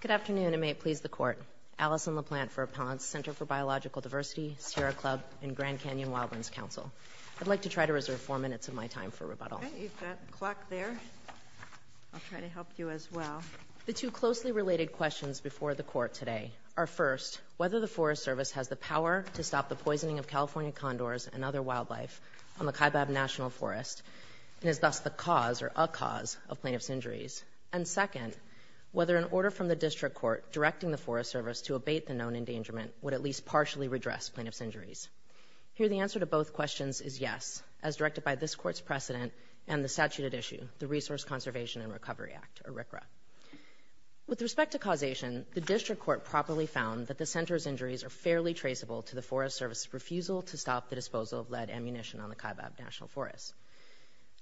Good afternoon, and may it please the Court. Allison LaPlante for Appellant's Center for Biological Diversity, Sierra Club, and Grand Canyon Wildlands Council. I'd like to try to reserve four minutes of my time for rebuttal. Okay, you've got the clock there. I'll try to help you as well. The two closely related questions before the Court today are, first, whether the Forest Service has the power to stop the poisoning of California condors and other wildlife on the Kaibab National Forest and is thus the cause or a cause of plaintiff's injuries. And second, whether an order from the District Court directing the Forest Service to abate the known endangerment would at least partially redress plaintiff's injuries. Here, the answer to both questions is yes, as directed by this Court's precedent and the statute at issue, the Resource Conservation and Recovery Act, or RCRA. With respect to causation, the District Court properly found that the Center's injuries are fairly traceable to the Forest Service's refusal to stop the disposal of lead ammunition on the Kaibab National Forest.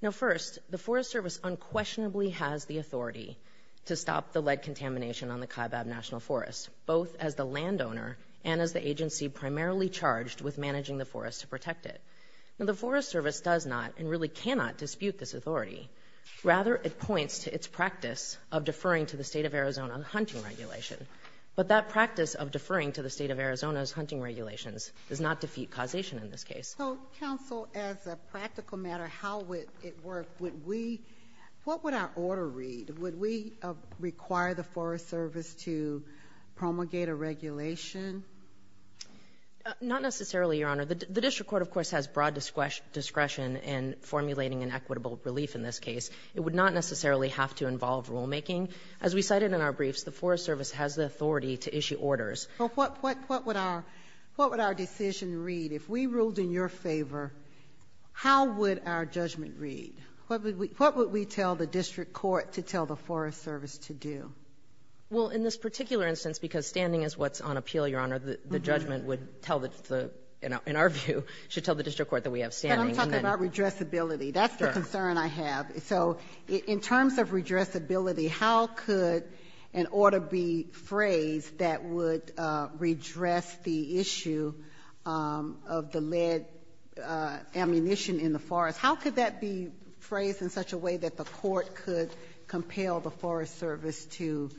Now, first, the Forest Service unquestionably has the authority to stop the lead contamination on the Kaibab National Forest, both as the landowner and as the agency primarily charged with managing the forest to protect it. Now, the Forest Service does not and really cannot dispute this authority. Rather, it points to its practice of deferring to the State of Arizona hunting regulation. But that practice of deferring to the State of Arizona's hunting regulations does not defeat causation in this case. So, counsel, as a practical matter, how would it work? Would we – what would our order read? Would we require the Forest Service to promulgate a regulation? Not necessarily, Your Honor. The District Court, of course, has broad discretion in formulating an equitable relief in this case. It would not necessarily have to involve rulemaking. As we cited in our briefs, the Forest Service has the authority to issue orders. Well, what would our decision read? If we ruled in your favor, how would our judgment read? What would we tell the District Court to tell the Forest Service to do? Well, in this particular instance, because standing is what's on appeal, Your Honor, the judgment would tell the – in our view, should tell the District Court that we have standing. But I'm talking about redressability. That's the concern I have. So in terms of redressability, how could an order be phrased that would redress the issue of the lead ammunition in the forest? How could that be phrased in such a way that the court could compel the Forest Service to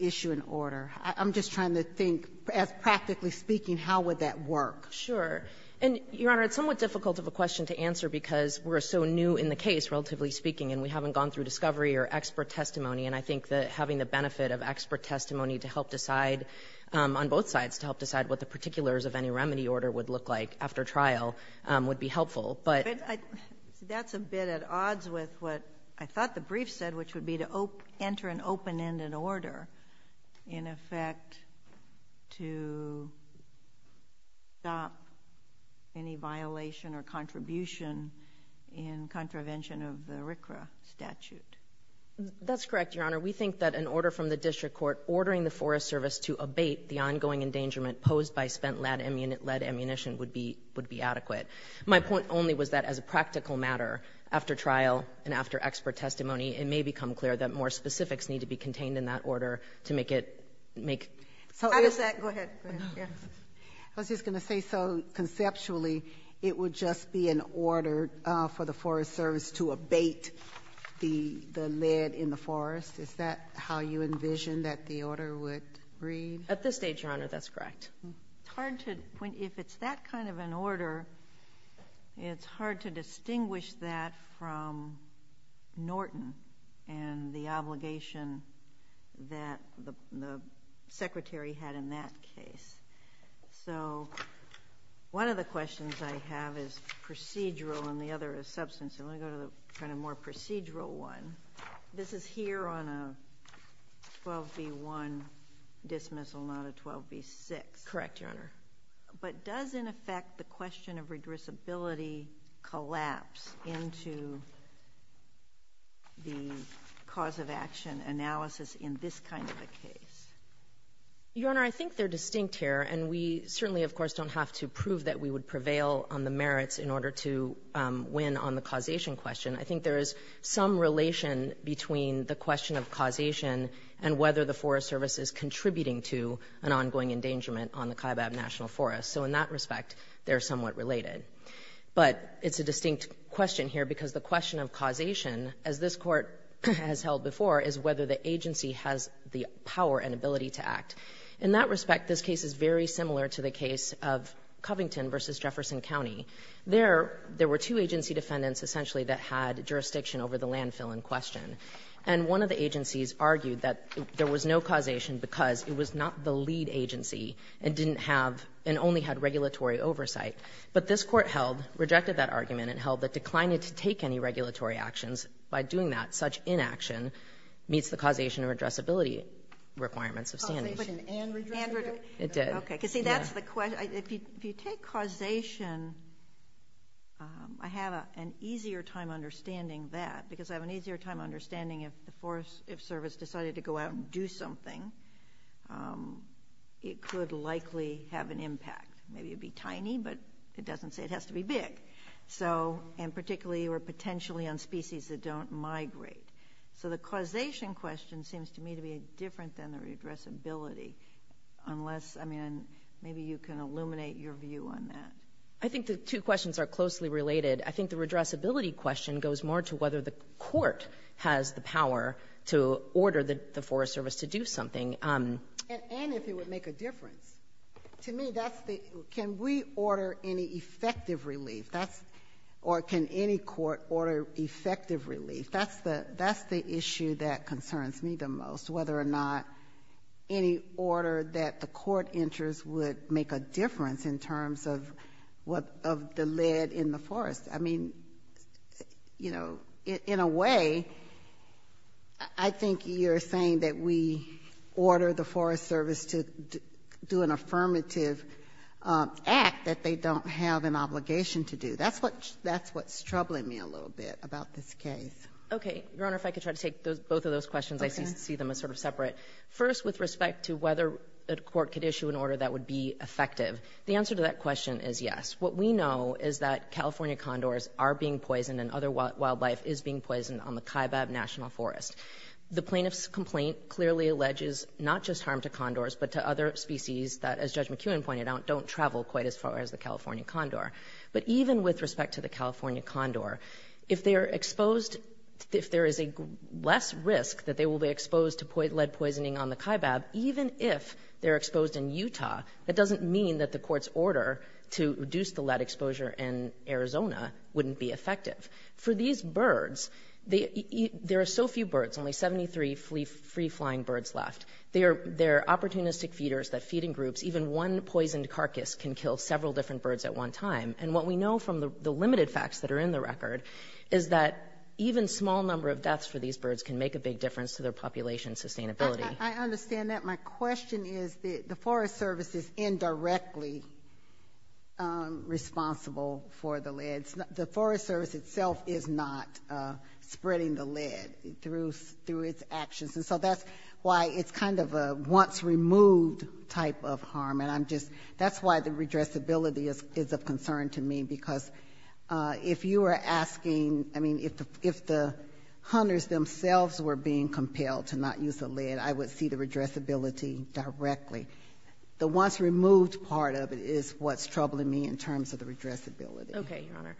issue an order? I'm just trying to think, as practically speaking, how would that work? Sure. And, Your Honor, it's somewhat difficult of a question to answer because we're so new in the case, relatively speaking, and we haven't gone through discovery or expert testimony. And I think that having the benefit of expert testimony to help decide on both sides to help decide what the particulars of any remedy order would look like after trial would be helpful. But I — That's a bit at odds with what I thought the brief said, which would be to enter an open-ended order, in effect, to stop any violation or contribution in contravention of the RCRA statute. That's correct, Your Honor. We think that an order from the district court ordering the Forest Service to abate the ongoing endangerment posed by spent lead ammunition would be adequate. My point only was that as a practical matter, after trial and after expert testimony, it may become clear that more specifics need to be contained in that order to make it — Go ahead. Go ahead. Yes. I was just going to say, so, conceptually, it would just be an order for the Forest Service to abate the lead in the forest? Is that how you envision that the order would read? At this stage, Your Honor, that's correct. It's hard to — if it's that kind of an order, it's hard to distinguish that from Norton and the obligation that the secretary had in that case. So, one of the questions I have is procedural and the other is substantive. Let me go to the kind of more procedural one. This is here on a 12b-1 dismissal, not a 12b-6. Correct, Your Honor. But does, in effect, the question of redressability collapse into the cause-of-action analysis in this kind of a case? Your Honor, I think they're distinct here. And we certainly, of course, don't have to prove that we would prevail on the merits in order to win on the causation question. I think there is some relation between the question of causation and whether the Forest Service is contributing to an ongoing endangerment on the Kaibab National Forest. So in that respect, they're somewhat related. But it's a distinct question here because the question of causation, as this Court has held before, is whether the agency has the power and ability to act. In that respect, this case is very similar to the case of Covington v. Jefferson County. There, there were two agency defendants, essentially, that had jurisdiction over the landfill in question. And one of the agencies argued that there was no causation because it was not the lead agency and didn't have and only had regulatory oversight. But this Court held, rejected that argument, and held that declining to take any regulatory actions by doing that, such inaction, meets the causation of redressability requirements of standing. Sotomayor, and redressability? It did. See, that's the question. If you take causation, I have an easier time understanding that because I have an easier time understanding if the Forest Service decided to go out and do something, it could likely have an impact. Maybe it would be tiny, but it doesn't say it has to be big. So, and particularly or potentially on species that don't migrate. So the causation question seems to me to be different than the redressability, unless, I mean, maybe you can illuminate your view on that. I think the two questions are closely related. I think the redressability question goes more to whether the Court has the power to order the Forest Service to do something. And if it would make a difference. To me, that's the, can we order any effective relief? That's, or can any court order effective relief? That's the, that's the issue that concerns me the most. Whether or not any order that the court enters would make a difference in terms of what, of the lead in the forest. I mean, you know, in a way, I think you're saying that we order the Forest Service to do an affirmative act that they don't have an obligation to do. That's what, that's what's troubling me a little bit about this case. Okay. Your Honor, if I could try to take those, both of those questions. I see them as sort of separate. First, with respect to whether a court could issue an order that would be effective. The answer to that question is yes. What we know is that California condors are being poisoned and other wildlife is being poisoned on the Kaibab National Forest. The plaintiff's complaint clearly alleges not just harm to condors, but to other species that, as Judge McKeown pointed out, don't travel quite as far as the California condor. But even with respect to the California condor, if they are exposed, if there is a less risk that they will be exposed to lead poisoning on the Kaibab, even if they're exposed in Utah, that doesn't mean that the court's order to reduce the lead exposure in Arizona wouldn't be effective. For these birds, there are so few birds, only 73 free-flying birds left. They're opportunistic feeders that feed in groups. Even one poisoned carcass can kill several different birds at one time. And what we know from the limited facts that are in the record is that even small number of deaths for these birds can make a big difference to their population sustainability. I understand that. My question is that the Forest Service is indirectly responsible for the lead. The Forest Service itself is not spreading the lead through its actions. And so that's why it's kind of a once-removed type of harm. And I'm just, that's why the redressability is of concern to me. Because if you were asking, I mean, if the hunters themselves were being compelled to not use the lead, I would see the redressability directly. The once-removed part of it is what's troubling me in terms of the redressability. Okay, Your Honor.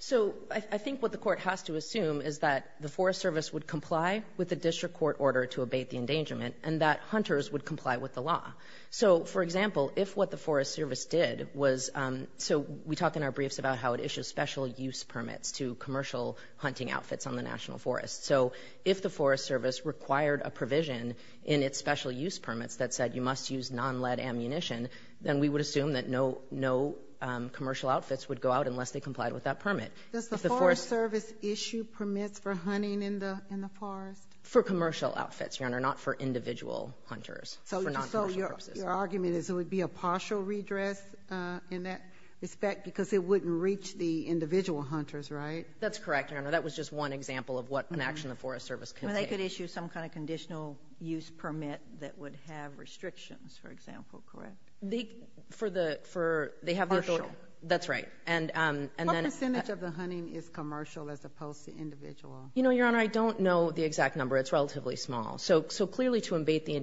So, I think what the court has to assume is that the Forest Service would comply with the district court order to abate the endangerment and that hunters would comply with the law. So, for example, if what the Forest Service did was, so we talk in our briefs about how it issues special use permits to commercial hunting outfits on the National Forest. So, if the Forest Service required a provision in its special use permits that said you must use non-lead ammunition, then we would assume that no commercial outfits would go out unless they complied with that permit. Does the Forest Service issue permits for hunting in the forest? For commercial outfits, Your Honor, not for individual hunters, for non-commercial purposes. So, your argument is it would be a partial redress in that respect because it wouldn't reach the individual hunters, right? That's correct, Your Honor. That was just one example of what an action the Forest Service could take. Well, they could issue some kind of conditional use permit that would have restrictions, for example, correct? For the, for, they have the authority. Partial. That's right. What percentage of the hunting is commercial as opposed to individual? You know, Your Honor, I don't know the exact number. It's relatively small. So, clearly, to abate the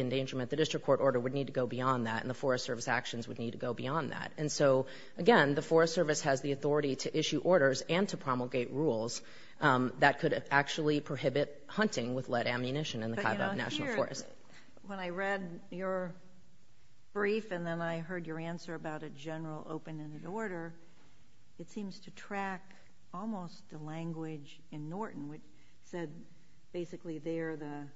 endangerment, the district court order would need to go beyond that, and the Forest Service actions would need to go beyond that. And so, again, the Forest Service has the authority to issue orders and to promulgate rules that could actually prohibit hunting with lead ammunition in the Kaibab National Forest. But, you know, here, when I read your brief and then I heard your answer about a particular, it seems to track almost the language in Norton, which said basically there the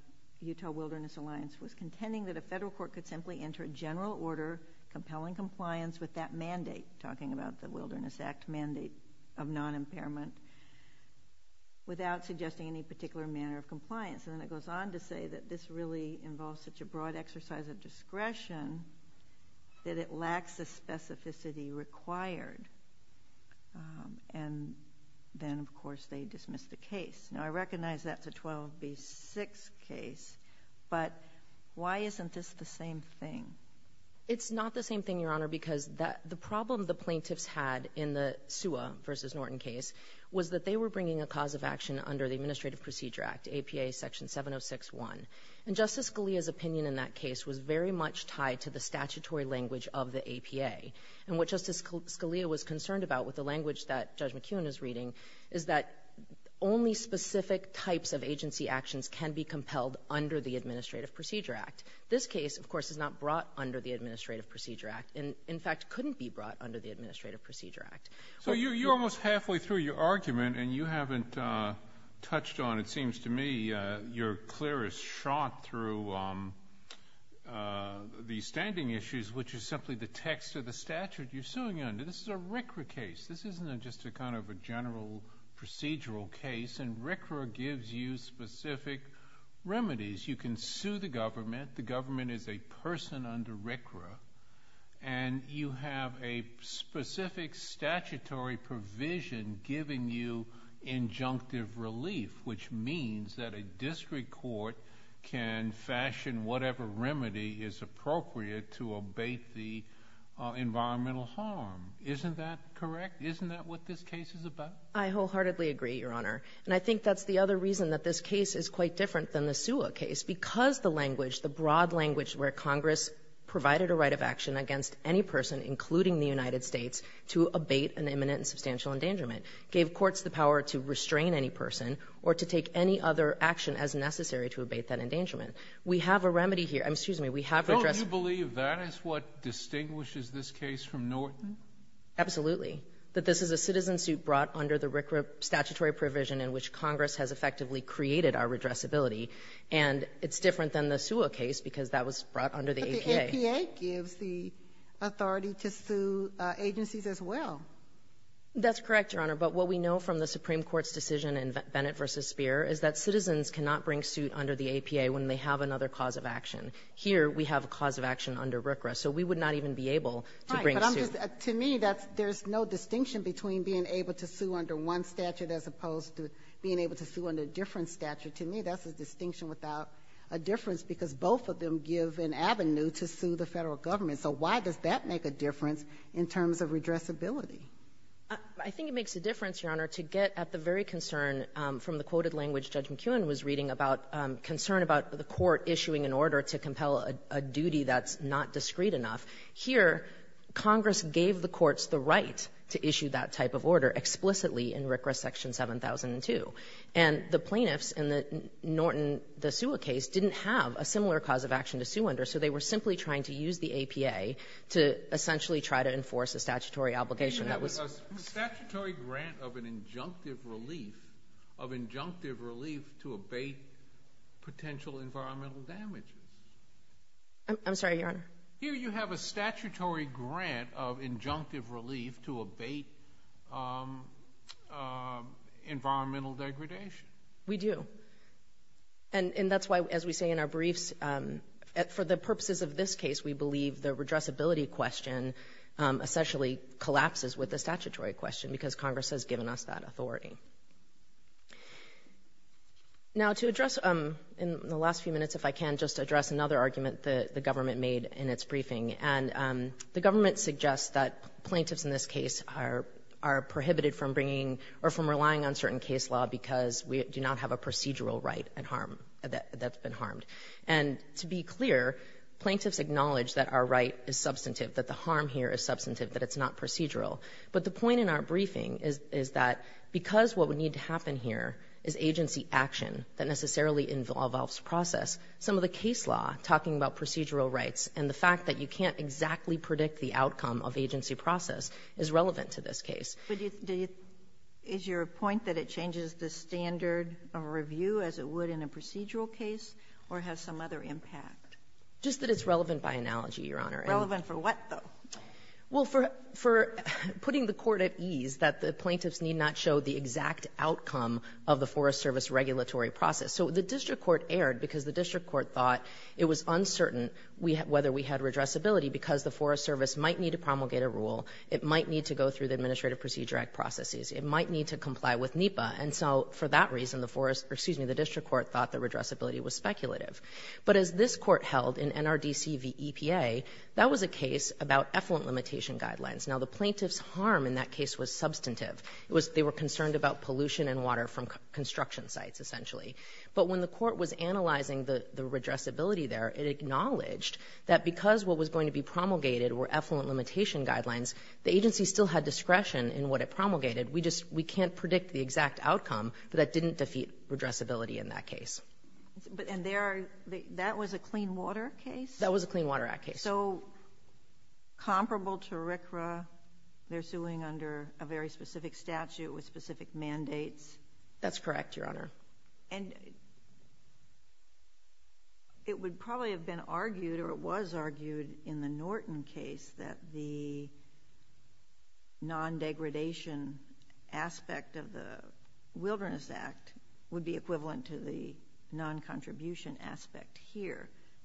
Utah Wilderness Alliance was contending that a federal court could simply enter a general order compelling compliance with that mandate, talking about the Wilderness Act mandate of non-impairment, without suggesting any particular manner of compliance. And then it goes on to say that this really involves such a broad exercise of non-impairment. And then, of course, they dismiss the case. Now, I recognize that's a 12B6 case, but why isn't this the same thing? It's not the same thing, Your Honor, because the problem the plaintiffs had in the Sua v. Norton case was that they were bringing a cause of action under the Administrative Procedure Act, APA Section 706.1. And Justice Scalia's opinion in that case was very much tied to the statutory language of the APA. And what Justice Scalia was concerned about with the language that Judge McKeown is reading is that only specific types of agency actions can be compelled under the Administrative Procedure Act. This case, of course, is not brought under the Administrative Procedure Act, and in fact couldn't be brought under the Administrative Procedure Act. So you're almost halfway through your argument, and you haven't touched on, it seems to me, your clearest shot through the standing issues, which is simply the text of the statute you're suing under. This is a RCRA case. This isn't just a kind of a general procedural case, and RCRA gives you specific remedies. You can sue the government. The government is a person under RCRA, and you have a specific statutory provision giving you injunctive relief, which means that a district court can do environmental harm. Isn't that correct? Isn't that what this case is about? I wholeheartedly agree, Your Honor. And I think that's the other reason that this case is quite different than the SUA case, because the language, the broad language where Congress provided a right of action against any person, including the United States, to abate an imminent and substantial endangerment gave courts the power to restrain any person or to take any other action as necessary to abate that endangerment. We have a remedy here. Excuse me. Don't you believe that is what distinguishes this case from Norton? Absolutely. That this is a citizen suit brought under the RCRA statutory provision in which Congress has effectively created our redressability. And it's different than the SUA case because that was brought under the APA. But the APA gives the authority to sue agencies as well. That's correct, Your Honor. But what we know from the Supreme Court's decision in Bennett v. Speer is that citizens cannot bring suit under the APA when they have another cause of action. Here, we have a cause of action under RCRA. So we would not even be able to bring suit. Right. But I'm just — to me, that's — there's no distinction between being able to sue under one statute as opposed to being able to sue under a different statute. To me, that's a distinction without a difference because both of them give an avenue to sue the Federal government. So why does that make a difference in terms of redressability? I think it makes a difference, Your Honor, to get at the very concern from the quoted language Judge McKeown was reading about concern about the court issuing an order to compel a duty that's not discreet enough. Here, Congress gave the courts the right to issue that type of order explicitly in RCRA Section 7002. And the plaintiffs in the Norton v. SUA case didn't have a similar cause of action to sue under, so they were simply trying to use the APA to essentially try to enforce a statutory obligation that was — of injunctive relief to abate potential environmental damages. I'm sorry, Your Honor? Here, you have a statutory grant of injunctive relief to abate environmental degradation. We do. And that's why, as we say in our briefs, for the purposes of this case, we believe the redressability question essentially collapses with the statutory question because Congress has given us that authority. Now, to address in the last few minutes, if I can, just address another argument that the government made in its briefing. And the government suggests that plaintiffs in this case are prohibited from bringing or from relying on certain case law because we do not have a procedural right at harm that's been harmed. And to be clear, plaintiffs acknowledge that our right is substantive, that the harm here is substantive, that it's not procedural. But the point in our briefing is that because what would need to happen here is agency action that necessarily involves process, some of the case law, talking about procedural rights, and the fact that you can't exactly predict the outcome of agency process, is relevant to this case. But do you — is your point that it changes the standard of review as it would in a procedural case, or has some other impact? Just that it's relevant by analogy, Your Honor. Relevant for what, though? Well, for putting the Court at ease that the plaintiffs need not show the exact outcome of the Forest Service regulatory process. So the district court erred because the district court thought it was uncertain whether we had redressability because the Forest Service might need to promulgate a rule, it might need to go through the Administrative Procedure Act processes, it might need to comply with NEPA. And so for that reason, the forest — excuse me, the district court thought the redressability was speculative. But as this Court held in NRDC v. EPA, that was a case about effluent limitation guidelines. Now, the plaintiffs' harm in that case was substantive. It was — they were concerned about pollution and water from construction sites, essentially. But when the Court was analyzing the redressability there, it acknowledged that because what was going to be promulgated were effluent limitation guidelines, the agency still had discretion in what it promulgated. We just — we can't predict the exact outcome, but that didn't defeat redressability in that case. And there are — that was a Clean Water case? That was a Clean Water Act case. So comparable to RCRA, they're suing under a very specific statute with specific mandates? That's correct, Your Honor. And it would probably have been argued or it was argued in the Norton case that the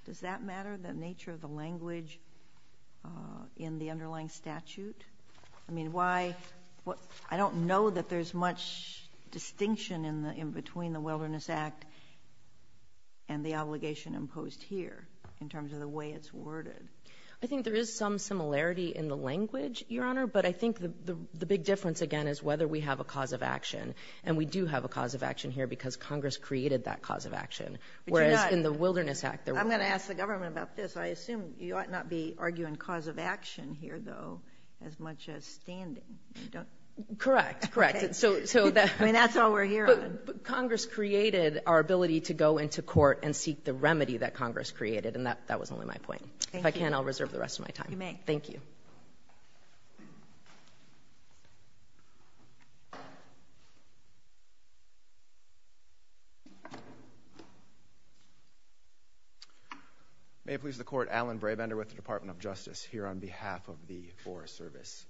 Does that matter, the nature of the language in the underlying statute? I mean, why — I don't know that there's much distinction in the — in between the Wilderness Act and the obligation imposed here in terms of the way it's worded. I think there is some similarity in the language, Your Honor, but I think the big difference, again, is whether we have a cause of action. And we do have a cause of action here because Congress created that cause of action, whereas in the Wilderness Act there wasn't. But you're not — I'm going to ask the government about this. I assume you ought not be arguing cause of action here, though, as much as standing. You don't — Correct. Correct. I mean, that's all we're here on. But Congress created our ability to go into court and seek the remedy that Congress created, and that was only my point. Thank you. If I can, I'll reserve the rest of my time. You may. Thank you. Thank you. May it please the Court, Alan Brabender with the Department of Justice here on behalf of the Forest Service.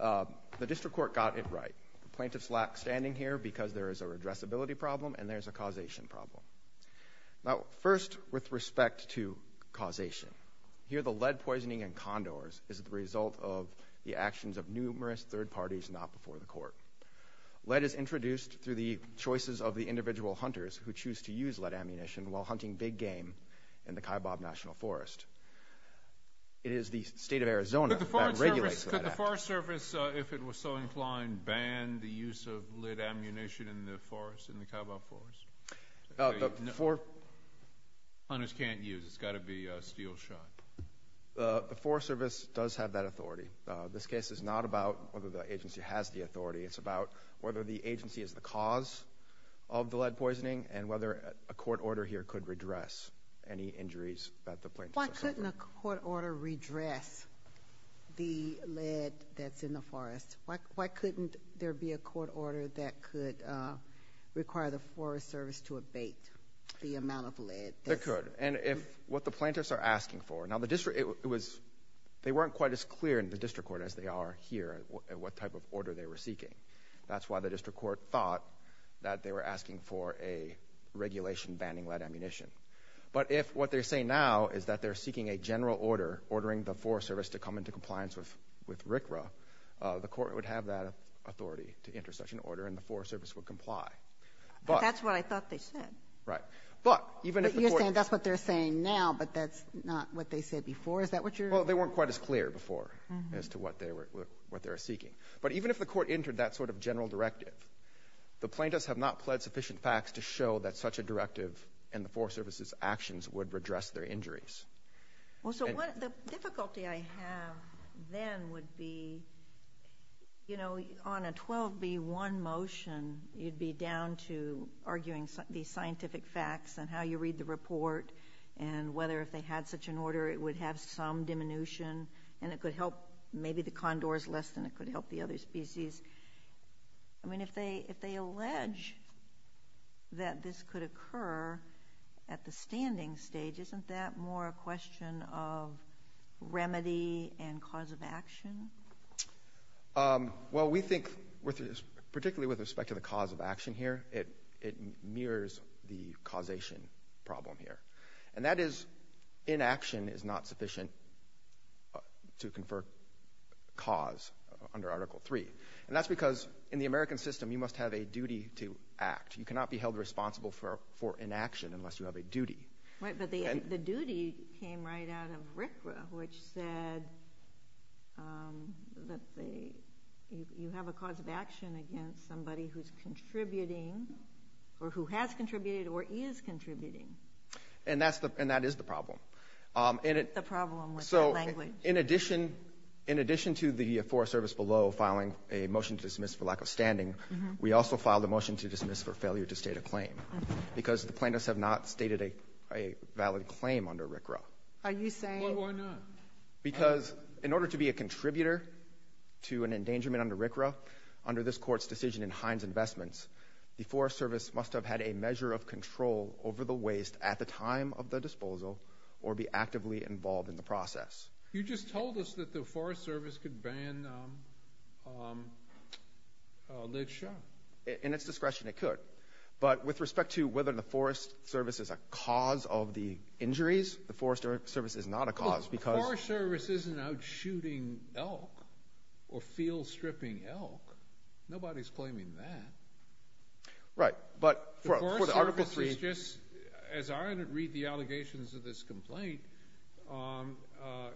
The district court got it right. The plaintiffs lack standing here because there is a redressability problem and there's a causation problem. Now, first with respect to causation. Here, the lead poisoning in condors is the result of the actions of numerous third parties not before the court. Lead is introduced through the choices of the individual hunters who choose to use lead ammunition while hunting big game in the Kaibab National Forest. It is the state of Arizona that regulates that act. Could the Forest Service, if it was so inclined, ban the use of lead ammunition in the forest, in the Kaibab Forest? Hunters can't use. It's got to be a steel shot. The Forest Service does have that authority. This case is not about whether the agency has the authority. It's about whether the agency is the cause of the lead poisoning and whether a court order here could redress any injuries that the plaintiffs have suffered. Why couldn't a court order redress the lead that's in the forest? Why couldn't there be a court order that could require the Forest Service to abate the amount of lead? It could. And if what the plaintiffs are asking for, now the district, it was, they weren't quite as clear in the district court as they are here at what type of order they were seeking. That's why the district court thought that they were asking for a regulation banning lead ammunition. But if what they're saying now is that they're seeking a general order ordering the Forest Service to come into compliance with RCRA, the court would have that authority to enter such an order and the Forest Service would comply. But that's what I thought they said. Right. But even if the court You're saying that's what they're saying now, but that's not what they said before. Is that what you're Well, they weren't quite as clear before as to what they were, what they were seeking. But even if the court entered that sort of general directive, the plaintiffs have not pled sufficient facts to show that such a directive and the Forest Service's actions would redress their injuries. Well, so what, the difficulty I have then would be, you know, on a 12b-1 motion, you'd be down to arguing the scientific facts and how you read the report and whether if they had such an order it would have some diminution and it could help maybe the condors less than it could help the other species. I mean, if they, if they allege that this could occur at the standing stage, isn't that more a question of remedy and cause of action? Well, we think particularly with respect to the cause of action here, it mirrors the causation problem here. And that is inaction is not sufficient to confer cause under Article 3. And that's because in the American system, you must have a duty to act. You cannot be held responsible for inaction unless you have a duty. Right. But the duty came right out of RCRA, which said that they, you have a cause of action against somebody who's contributing or who has contributed or is contributing. And that's the, and that is the problem. The problem with that language. So in addition, in addition to the Forest Service below filing a motion to dismiss for lack of standing, we also filed a motion to dismiss for failure to state a claim because the plaintiffs have not stated a valid claim under RCRA. Are you saying? Well, why not? Because in order to be a contributor to an endangerment under RCRA, under this court's decision in Hines Investments, the Forest Service must have had a measure of control over the waste at the time of the disposal or be actively involved in the process. You just told us that the Forest Service could ban Lid Show. In its discretion, it could. But with respect to whether the Forest Service is a cause of the injuries, the Forest Service is not a cause because... Well, the Forest Service isn't out shooting elk or field stripping elk. Nobody's claiming that. Right. But for the Article 3... The Forest Service is just, as I read the allegations of this complaint,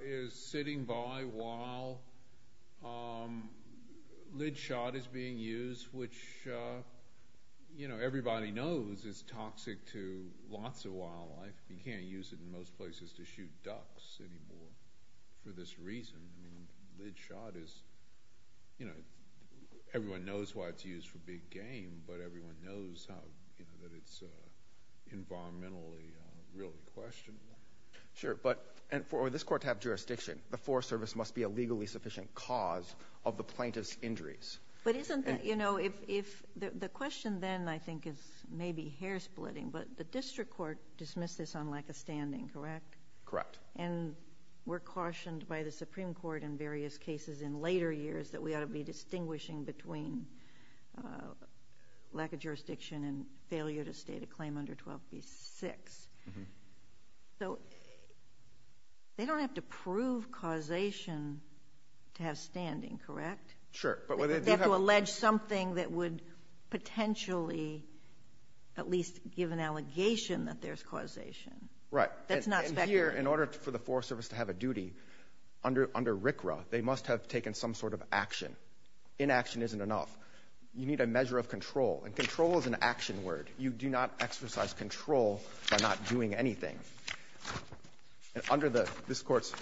is sitting by while Lid Shot is being used, which everybody knows is toxic to lots of wildlife. You can't use it in most places to shoot ducks anymore for this reason. Lid Shot is... Everyone knows why it's used for big game, but everyone knows that it's environmentally really questionable. Sure. For this court to have jurisdiction, the Forest Service must be a legally sufficient cause of the plaintiff's injuries. But isn't that... The question then, I think, is maybe hair splitting, but the district court dismissed this on lack of standing, correct? Correct. And we're cautioned by the Supreme Court in various cases in later years that we ought to be distinguishing between lack of jurisdiction and failure to state a claim under 12b-6. So they don't have to prove causation to have standing, correct? Sure. They have to allege something that would potentially at least give an allegation that there's causation. Right. That's not speculation. And here, in order for the Forest Service to have a duty, under RCRA, they must have taken some sort of action. Inaction isn't enough. You need a measure of control, and control is an action word. You do not exercise control by not doing anything. Under this Court's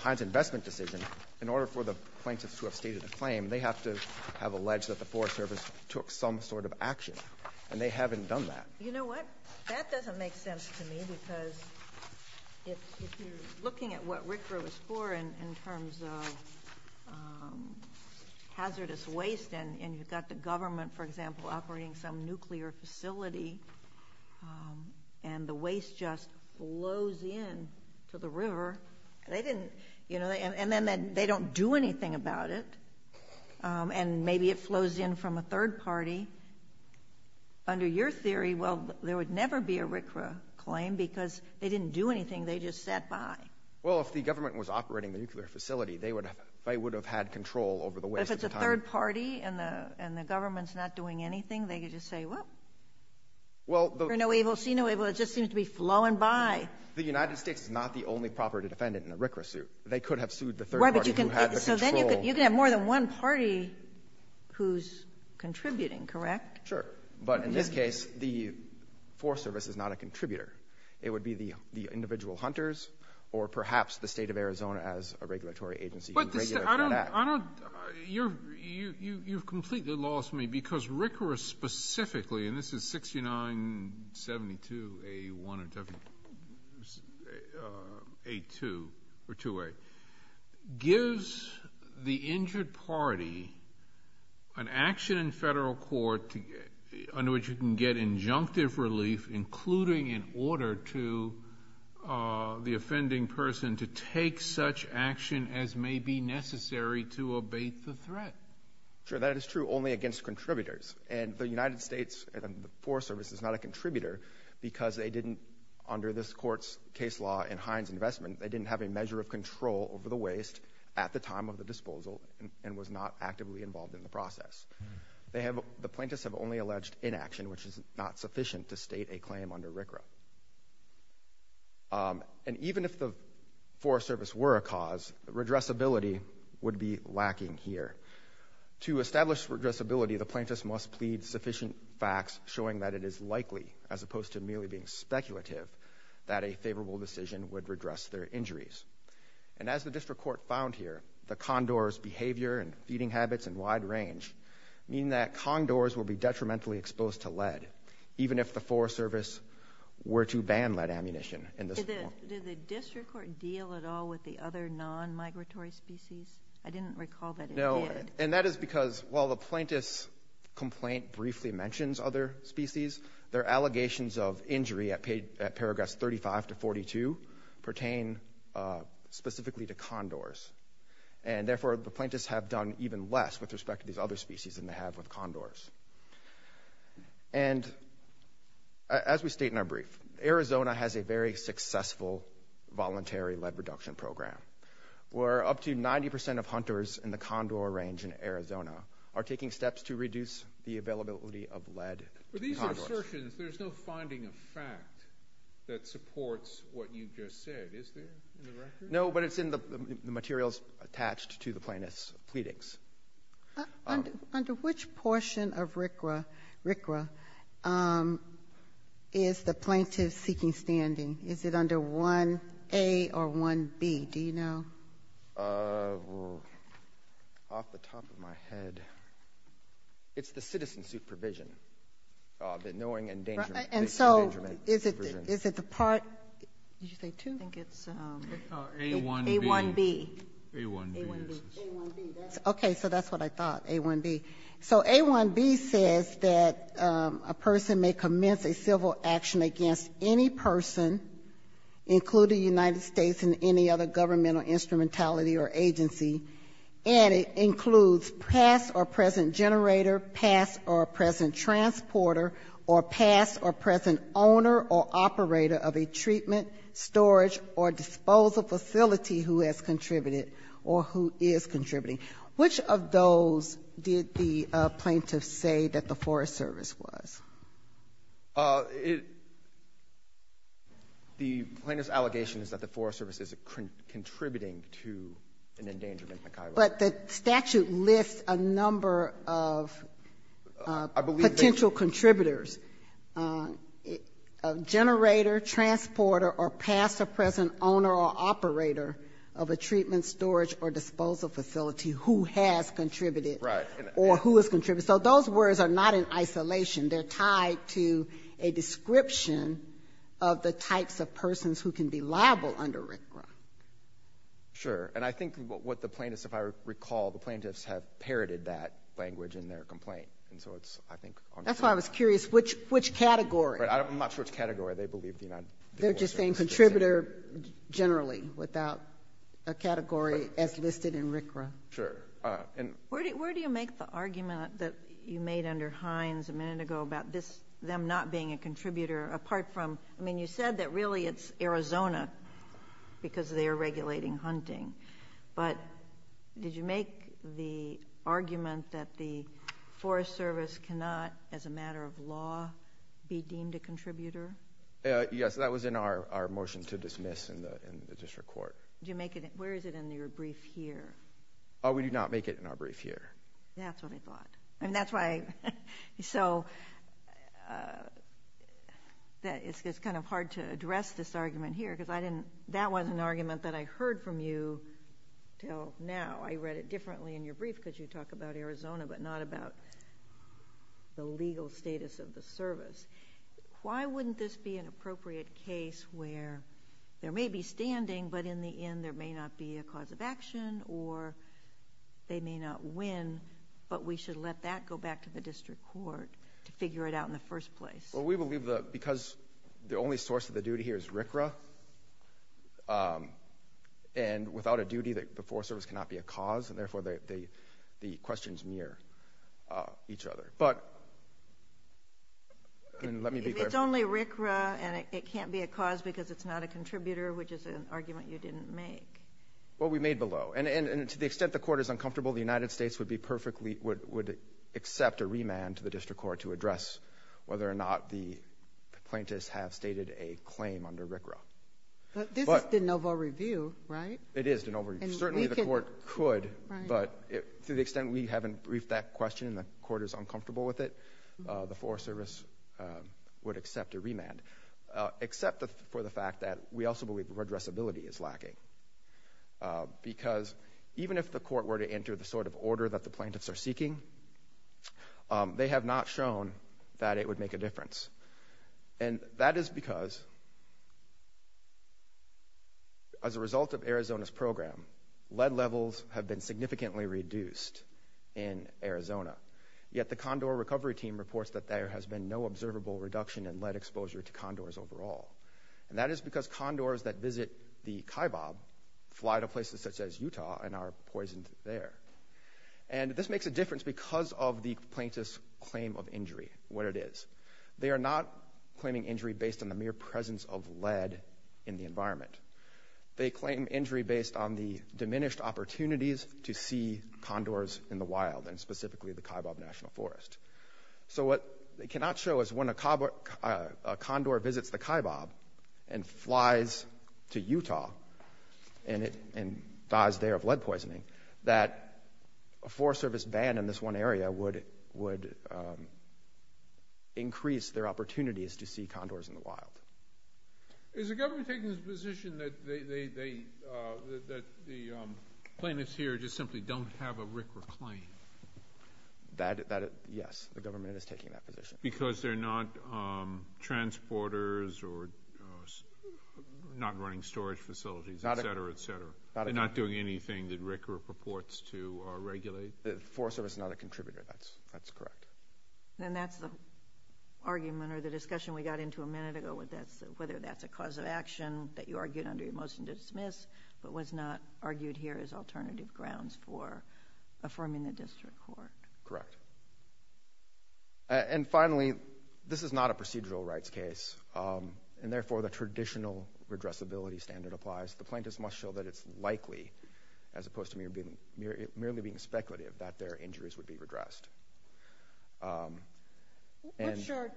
Pines investment decision, in order for the plaintiffs to have stated a claim, they have to have alleged that the Forest Service took some sort of action, and they haven't done that. You know what? That doesn't make sense to me, because if you're looking at what RCRA was for in terms of hazardous waste, and you've got the government, for example, operating some nuclear facility, and the waste just flows in to the river, they didn't, you know, and then they don't do anything about it, and maybe it flows in from a third party. Under your theory, well, there would never be a RCRA claim because they didn't do anything. They just sat by. Well, if the government was operating the nuclear facility, they would have had control over the waste at the time. And if it's a third party and the government's not doing anything, they could just say, well, see no evil, see no evil. It just seems to be flowing by. The United States is not the only property defendant in a RCRA suit. They could have sued the third party who had the control. So then you could have more than one party who's contributing, correct? Sure. But in this case, the Forest Service is not a contributor. It would be the individual hunters or perhaps the State of Arizona as a regulatory agency who regulates that act. You've completely lost me because RCRA specifically, and this is 6972A1 or A2 or 2A, gives the injured party an action in federal court under which you can get injunctive relief, including in order to the offending person to take such action as may be necessary to abate the threat. Sure. That is true only against contributors. And the United States and the Forest Service is not a contributor because they didn't, under this court's case law and Hines' investment, they didn't have a measure of control over the waste at the time of the disposal and was not actively involved in the process. The plaintiffs have only alleged inaction, which is not sufficient to state a claim under RCRA. And even if the Forest Service were a cause, redressability would be lacking here. To establish redressability, the plaintiffs must plead sufficient facts showing that it is likely, as opposed to merely being speculative, that a favorable decision would redress their injuries. And as the district court found here, the condors' behavior and feeding habits in wide range mean that condors will be detrimentally exposed to lead, even if the Forest Service were to ban lead ammunition in this court. Did the district court deal at all with the other non-migratory species? I didn't recall that it did. No, and that is because while the plaintiff's complaint briefly mentions other species, their allegations of injury at paragraphs 35 to 42 pertain specifically to condors. And therefore, the plaintiffs have done even less with respect to these other species than they have with condors. And as we state in our brief, Arizona has a very successful voluntary lead reduction program, where up to 90% of hunters in the condor range in Arizona are taking steps to reduce the availability of lead to condors. But these assertions, there's no finding of fact that supports what you just said, is there, in the record? No, but it's in the materials attached to the plaintiff's pleadings. Under which portion of RCRA is the plaintiff seeking standing? Is it under 1A or 1B? Do you know? Well, off the top of my head, it's the citizen supervision, the knowing and endangerment. And so is it the part, did you say 2? I think it's A1B. A1B. A1B, yes. A1B. Okay, so that's what I thought, A1B. So A1B says that a person may commence a civil action against any person, including the United States and any other government or instrumentality or agency, and it includes past or present generator, past or present transporter, or past or present owner or operator of a treatment, storage, or disposal facility who has contributed or who is contributing. Which of those did the plaintiff say that the Forest Service was? It the plaintiff's allegation is that the Forest Service is contributing to an endangerment, McKayla. But the statute lists a number of potential contributors, generator, transporter, or past or present owner or operator of a treatment, storage, or disposal facility who has contributed or who has contributed. Right. So those words are not in isolation. They're tied to a description of the types of persons who can be liable under RCRA. Sure. And I think what the plaintiffs, if I recall, the plaintiffs have parroted that language in their complaint. And so it's, I think, on the floor. That's why I was curious which category. Right. I'm not sure which category. They believe the United States. They're just saying contributor generally without a category as listed in RCRA. Sure. Where do you make the argument that you made under Hines a minute ago about this, them not being a contributor, apart from, I mean, you said that really it's Arizona because they are regulating hunting. But did you make the argument that the Forest Service cannot, as a matter of law, be deemed a contributor? Yes, that was in our motion to dismiss in the district court. Where is it in your brief here? We do not make it in our brief here. That's what I thought. And that's why I, so it's kind of hard to address this argument here because I didn't, that was an argument that I heard from you until now. I read it differently in your brief because you talk about Arizona but not about the legal status of the service. Why wouldn't this be an appropriate case where there may be standing but in the end there may not be a cause of action or they may not win but we should let that go back to the district court to figure it out in the first place? Well, we believe that because the only source of the duty here is RCRA and without a duty the Forest Service cannot be a cause and therefore the questions mirror each other. But, and let me be clear. It's only RCRA and it can't be a cause because it's not a contributor, which is an argument you didn't make. Well, we made the law. And to the extent the court is uncomfortable, the United States would be perfectly, would accept a remand to the district court to address whether or not the plaintiffs have stated a claim under RCRA. But this is de novo review, right? It is de novo review. Certainly the court could, but to the extent we haven't briefed that question and the court is uncomfortable with it, the Forest Service would accept a remand. Except for the fact that we also believe redressability is lacking. Because even if the court were to enter the sort of order that the plaintiffs are seeking, they have not shown that it would make a difference. And that is because as a result of Arizona's program, lead levels have been significantly reduced in Arizona. Yet the Condor Recovery Team reports that there has been no observable reduction in lead exposure to condors overall. And that is because condors that visit the Kaibab fly to places such as Utah and are poisoned there. And this makes a difference because of the plaintiff's claim of injury, what it is. They are not claiming injury based on the mere presence of lead in the environment. They claim injury based on the diminished opportunities to see condors in the wild, and specifically the Kaibab National Forest. So what they cannot show is when a condor visits the Kaibab and flies to Utah and dies there of lead poisoning, that a Forest Service ban in this one area would increase their opportunities to see condors in the wild. Is the government taking the position that the plaintiffs here just simply don't have a rick or claim? Yes, the government is taking that position. Because they're not transporters or not running storage facilities, et cetera, et cetera. They're not doing anything that RICRA purports to regulate? The Forest Service is not a contributor, that's correct. And that's the argument or the discussion we got into a minute ago, whether that's a cause of action that you argued under your motion to dismiss, but was not argued here as alternative grounds for affirming the district court. Correct. And finally, this is not a procedural rights case, and therefore the traditional redressability standard applies. The plaintiffs must show that it's likely, as opposed to merely being speculative, that their injuries would be redressed. What's your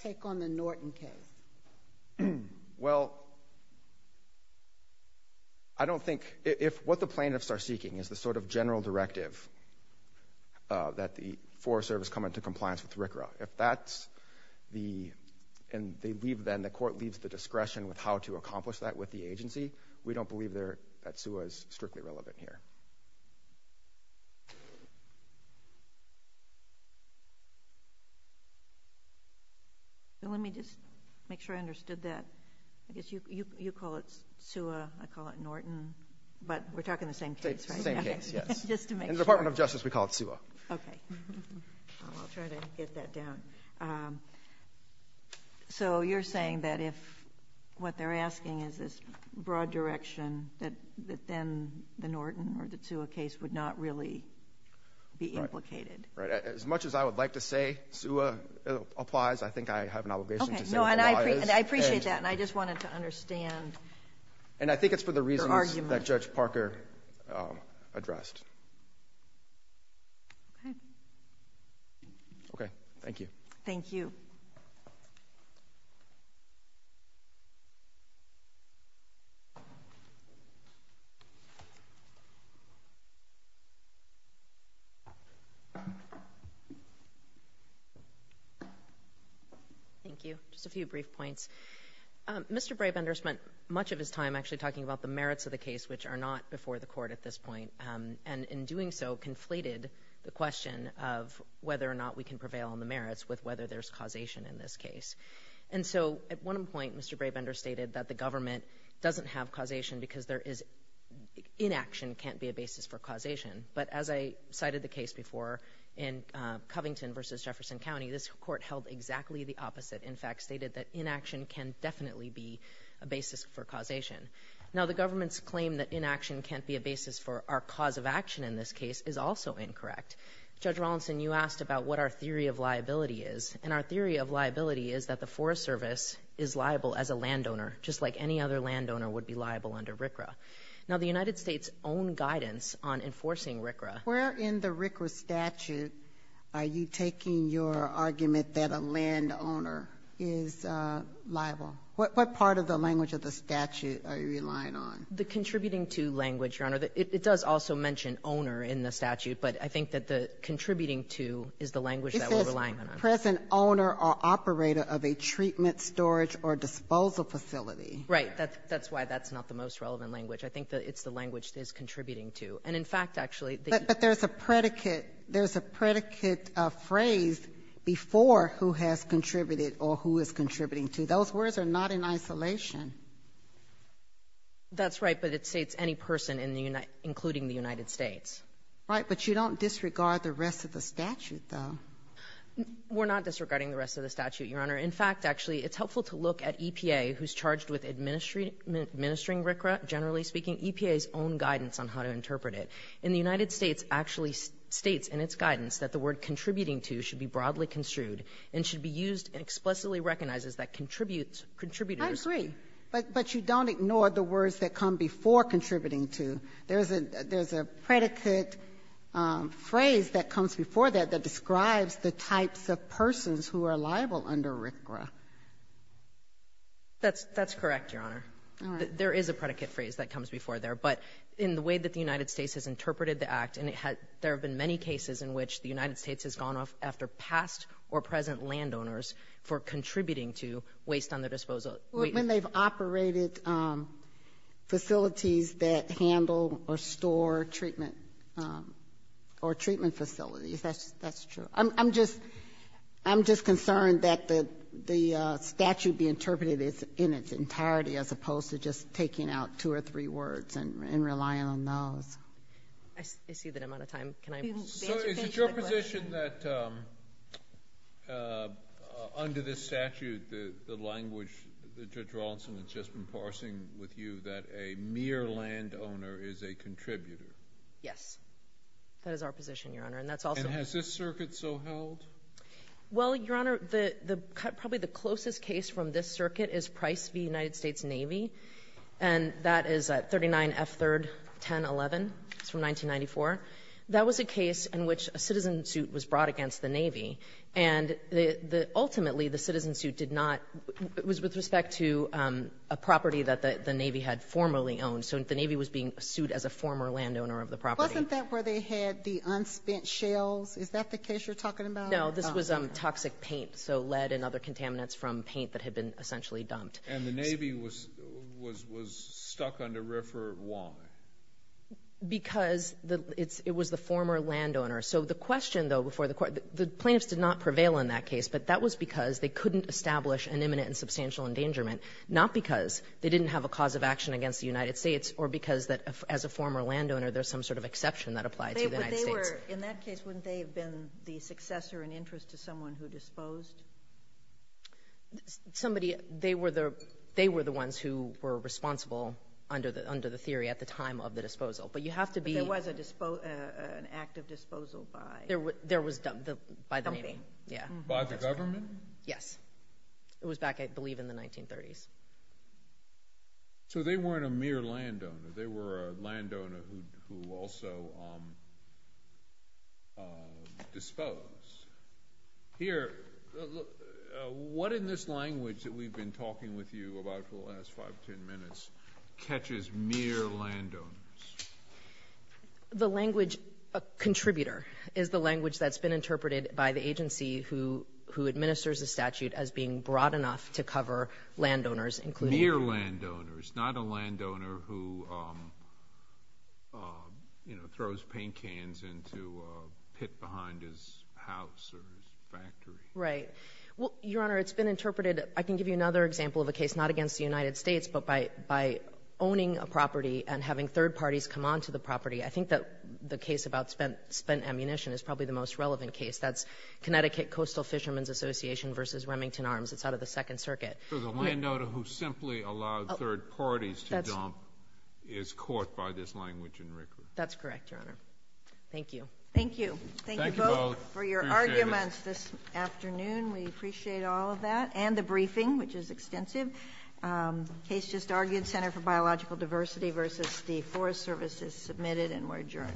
take on the Norton case? Well, I don't think – if what the plaintiffs are seeking is the sort of general directive that the Forest Service come into compliance with RICRA, if that's the – and they leave then, the court leaves the discretion with how to accomplish that with the agency, we don't believe that SUA is strictly relevant here. Let me just make sure I understood that. I guess you call it SUA, I call it Norton, but we're talking the same case, right? It's the same case, yes. Just to make sure. In the Department of Justice, we call it SUA. Okay. I'll try to get that down. So you're saying that if what they're asking is this broad direction, that then the Norton or the SUA case would not really be implicated? Right. As much as I would like to say SUA applies, I think I have an obligation to say what the law is. Okay. No, and I appreciate that, and I just wanted to understand your argument. And I think it's for the reasons that Judge Parker addressed. Okay. Okay. Thank you. Thank you. Thank you. Just a few brief points. Mr. Brabender spent much of his time actually talking about the merits of the case, which are not before the court at this point, and in doing so conflated the question of whether or not we can prevail on the merits with whether there's causation in this case. And so at one point, Mr. Brabender stated that the government doesn't have causation because inaction can't be a basis for causation. But as I cited the case before in Covington v. Jefferson County, this court held exactly the opposite. In fact, stated that inaction can definitely be a basis for causation. Now, the government's claim that inaction can't be a basis for our cause of action in this case is also incorrect. Judge Rawlinson, you asked about what our theory of liability is, and our theory of liability is that the Forest Service is liable as a landowner, just like any other landowner would be liable under RCRA. Now, the United States' own guidance on enforcing RCRA. Sotomayor, where in the RCRA statute are you taking your argument that a landowner is liable? What part of the language of the statute are you relying on? The contributing to language, Your Honor. It does also mention owner in the statute, but I think that the contributing to is the language that we're relying on. The present owner or operator of a treatment, storage, or disposal facility. Right. That's why that's not the most relevant language. I think that it's the language that is contributing to. And in fact, actually, the ---- But there's a predicate. There's a predicate phrase before who has contributed or who is contributing to. Those words are not in isolation. That's right. But it states any person in the United --"including the United States." Right. But you don't disregard the rest of the statute, though. We're not disregarding the rest of the statute, Your Honor. In fact, actually, it's helpful to look at EPA, who's charged with administering RCRA, generally speaking, EPA's own guidance on how to interpret it. And the United States actually states in its guidance that the word contributing to should be broadly construed and should be used and explicitly recognizes that contributors ---- I agree. But you don't ignore the words that come before contributing to. There's a ---- there's a predicate phrase that comes before that that describes the types of persons who are liable under RCRA. That's ---- that's correct, Your Honor. All right. There is a predicate phrase that comes before there. But in the way that the United States has interpreted the Act, and it had ---- there have been many cases in which the United States has gone after past or present landowners for contributing to waste on their disposal. Well, when they've operated facilities that handle or store treatment or treatment facilities, that's true. I'm just ---- I'm just concerned that the statute be interpreted in its entirety as opposed to just taking out two or three words and relying on those. I see that I'm out of time. Can I ---- So is it your position that under this statute, the language that Judge Rawlinson has just been parsing with you, that a mere landowner is a contributor? Yes. That is our position, Your Honor. And that's also ---- And has this circuit so held? Well, Your Honor, the ---- probably the closest case from this circuit is Price v. United States Navy. And that is 39F3-1011. It's from 1994. That was a case in which a citizen suit was brought against the Navy, and ultimately the citizen suit did not ---- it was with respect to a property that the Navy had formerly owned. So the Navy was being sued as a former landowner of the property. Wasn't that where they had the unspent shales? Is that the case you're talking about? No. This was toxic paint, so lead and other contaminants from paint that had been essentially dumped. And the Navy was stuck under RFRA. Why? Because the ---- it's ---- it was the former landowner. So the question, though, before the court ---- the plaintiffs did not prevail in that case, but that was because they couldn't establish an imminent and substantial endangerment, not because they didn't have a cause of action against the United States or because that, as a former landowner, there's some sort of exception that applied to the United States. But they were ---- in that case, wouldn't they have been the successor in interest to someone who disposed? Somebody ---- they were the ---- they were the ones who were responsible under the theory at the time of the disposal. But you have to be ---- But there was an active disposal by ---- There was by the Navy. By the government? Yes. It was back, I believe, in the 1930s. So they weren't a mere landowner. They were a landowner who also disposed. Here, what in this language that we've been talking with you about for the last five, ten minutes catches mere landowners? The language, a contributor, is the language that's been interpreted by the agency who administers the statute as being broad enough to cover landowners, including ---- Mere landowners, not a landowner who, you know, throws paint cans into a pit behind his house or his factory. Right. Well, Your Honor, it's been interpreted ---- I can give you another example of a case not against the United States, but by owning a property and having third parties come on to the property. I think that the case about spent ammunition is probably the most relevant case. That's Connecticut Coastal Fishermen's Association v. Remington Arms. It's out of the Second Circuit. So the landowner who simply allowed third parties to dump is caught by this language in RCRA. That's correct, Your Honor. Thank you. Thank you. Thank you both for your arguments this afternoon. We appreciate all of that, and the briefing, which is extensive. The case just argued, Center for Biological Diversity v. the Forest Service, is submitted and we're adjourned.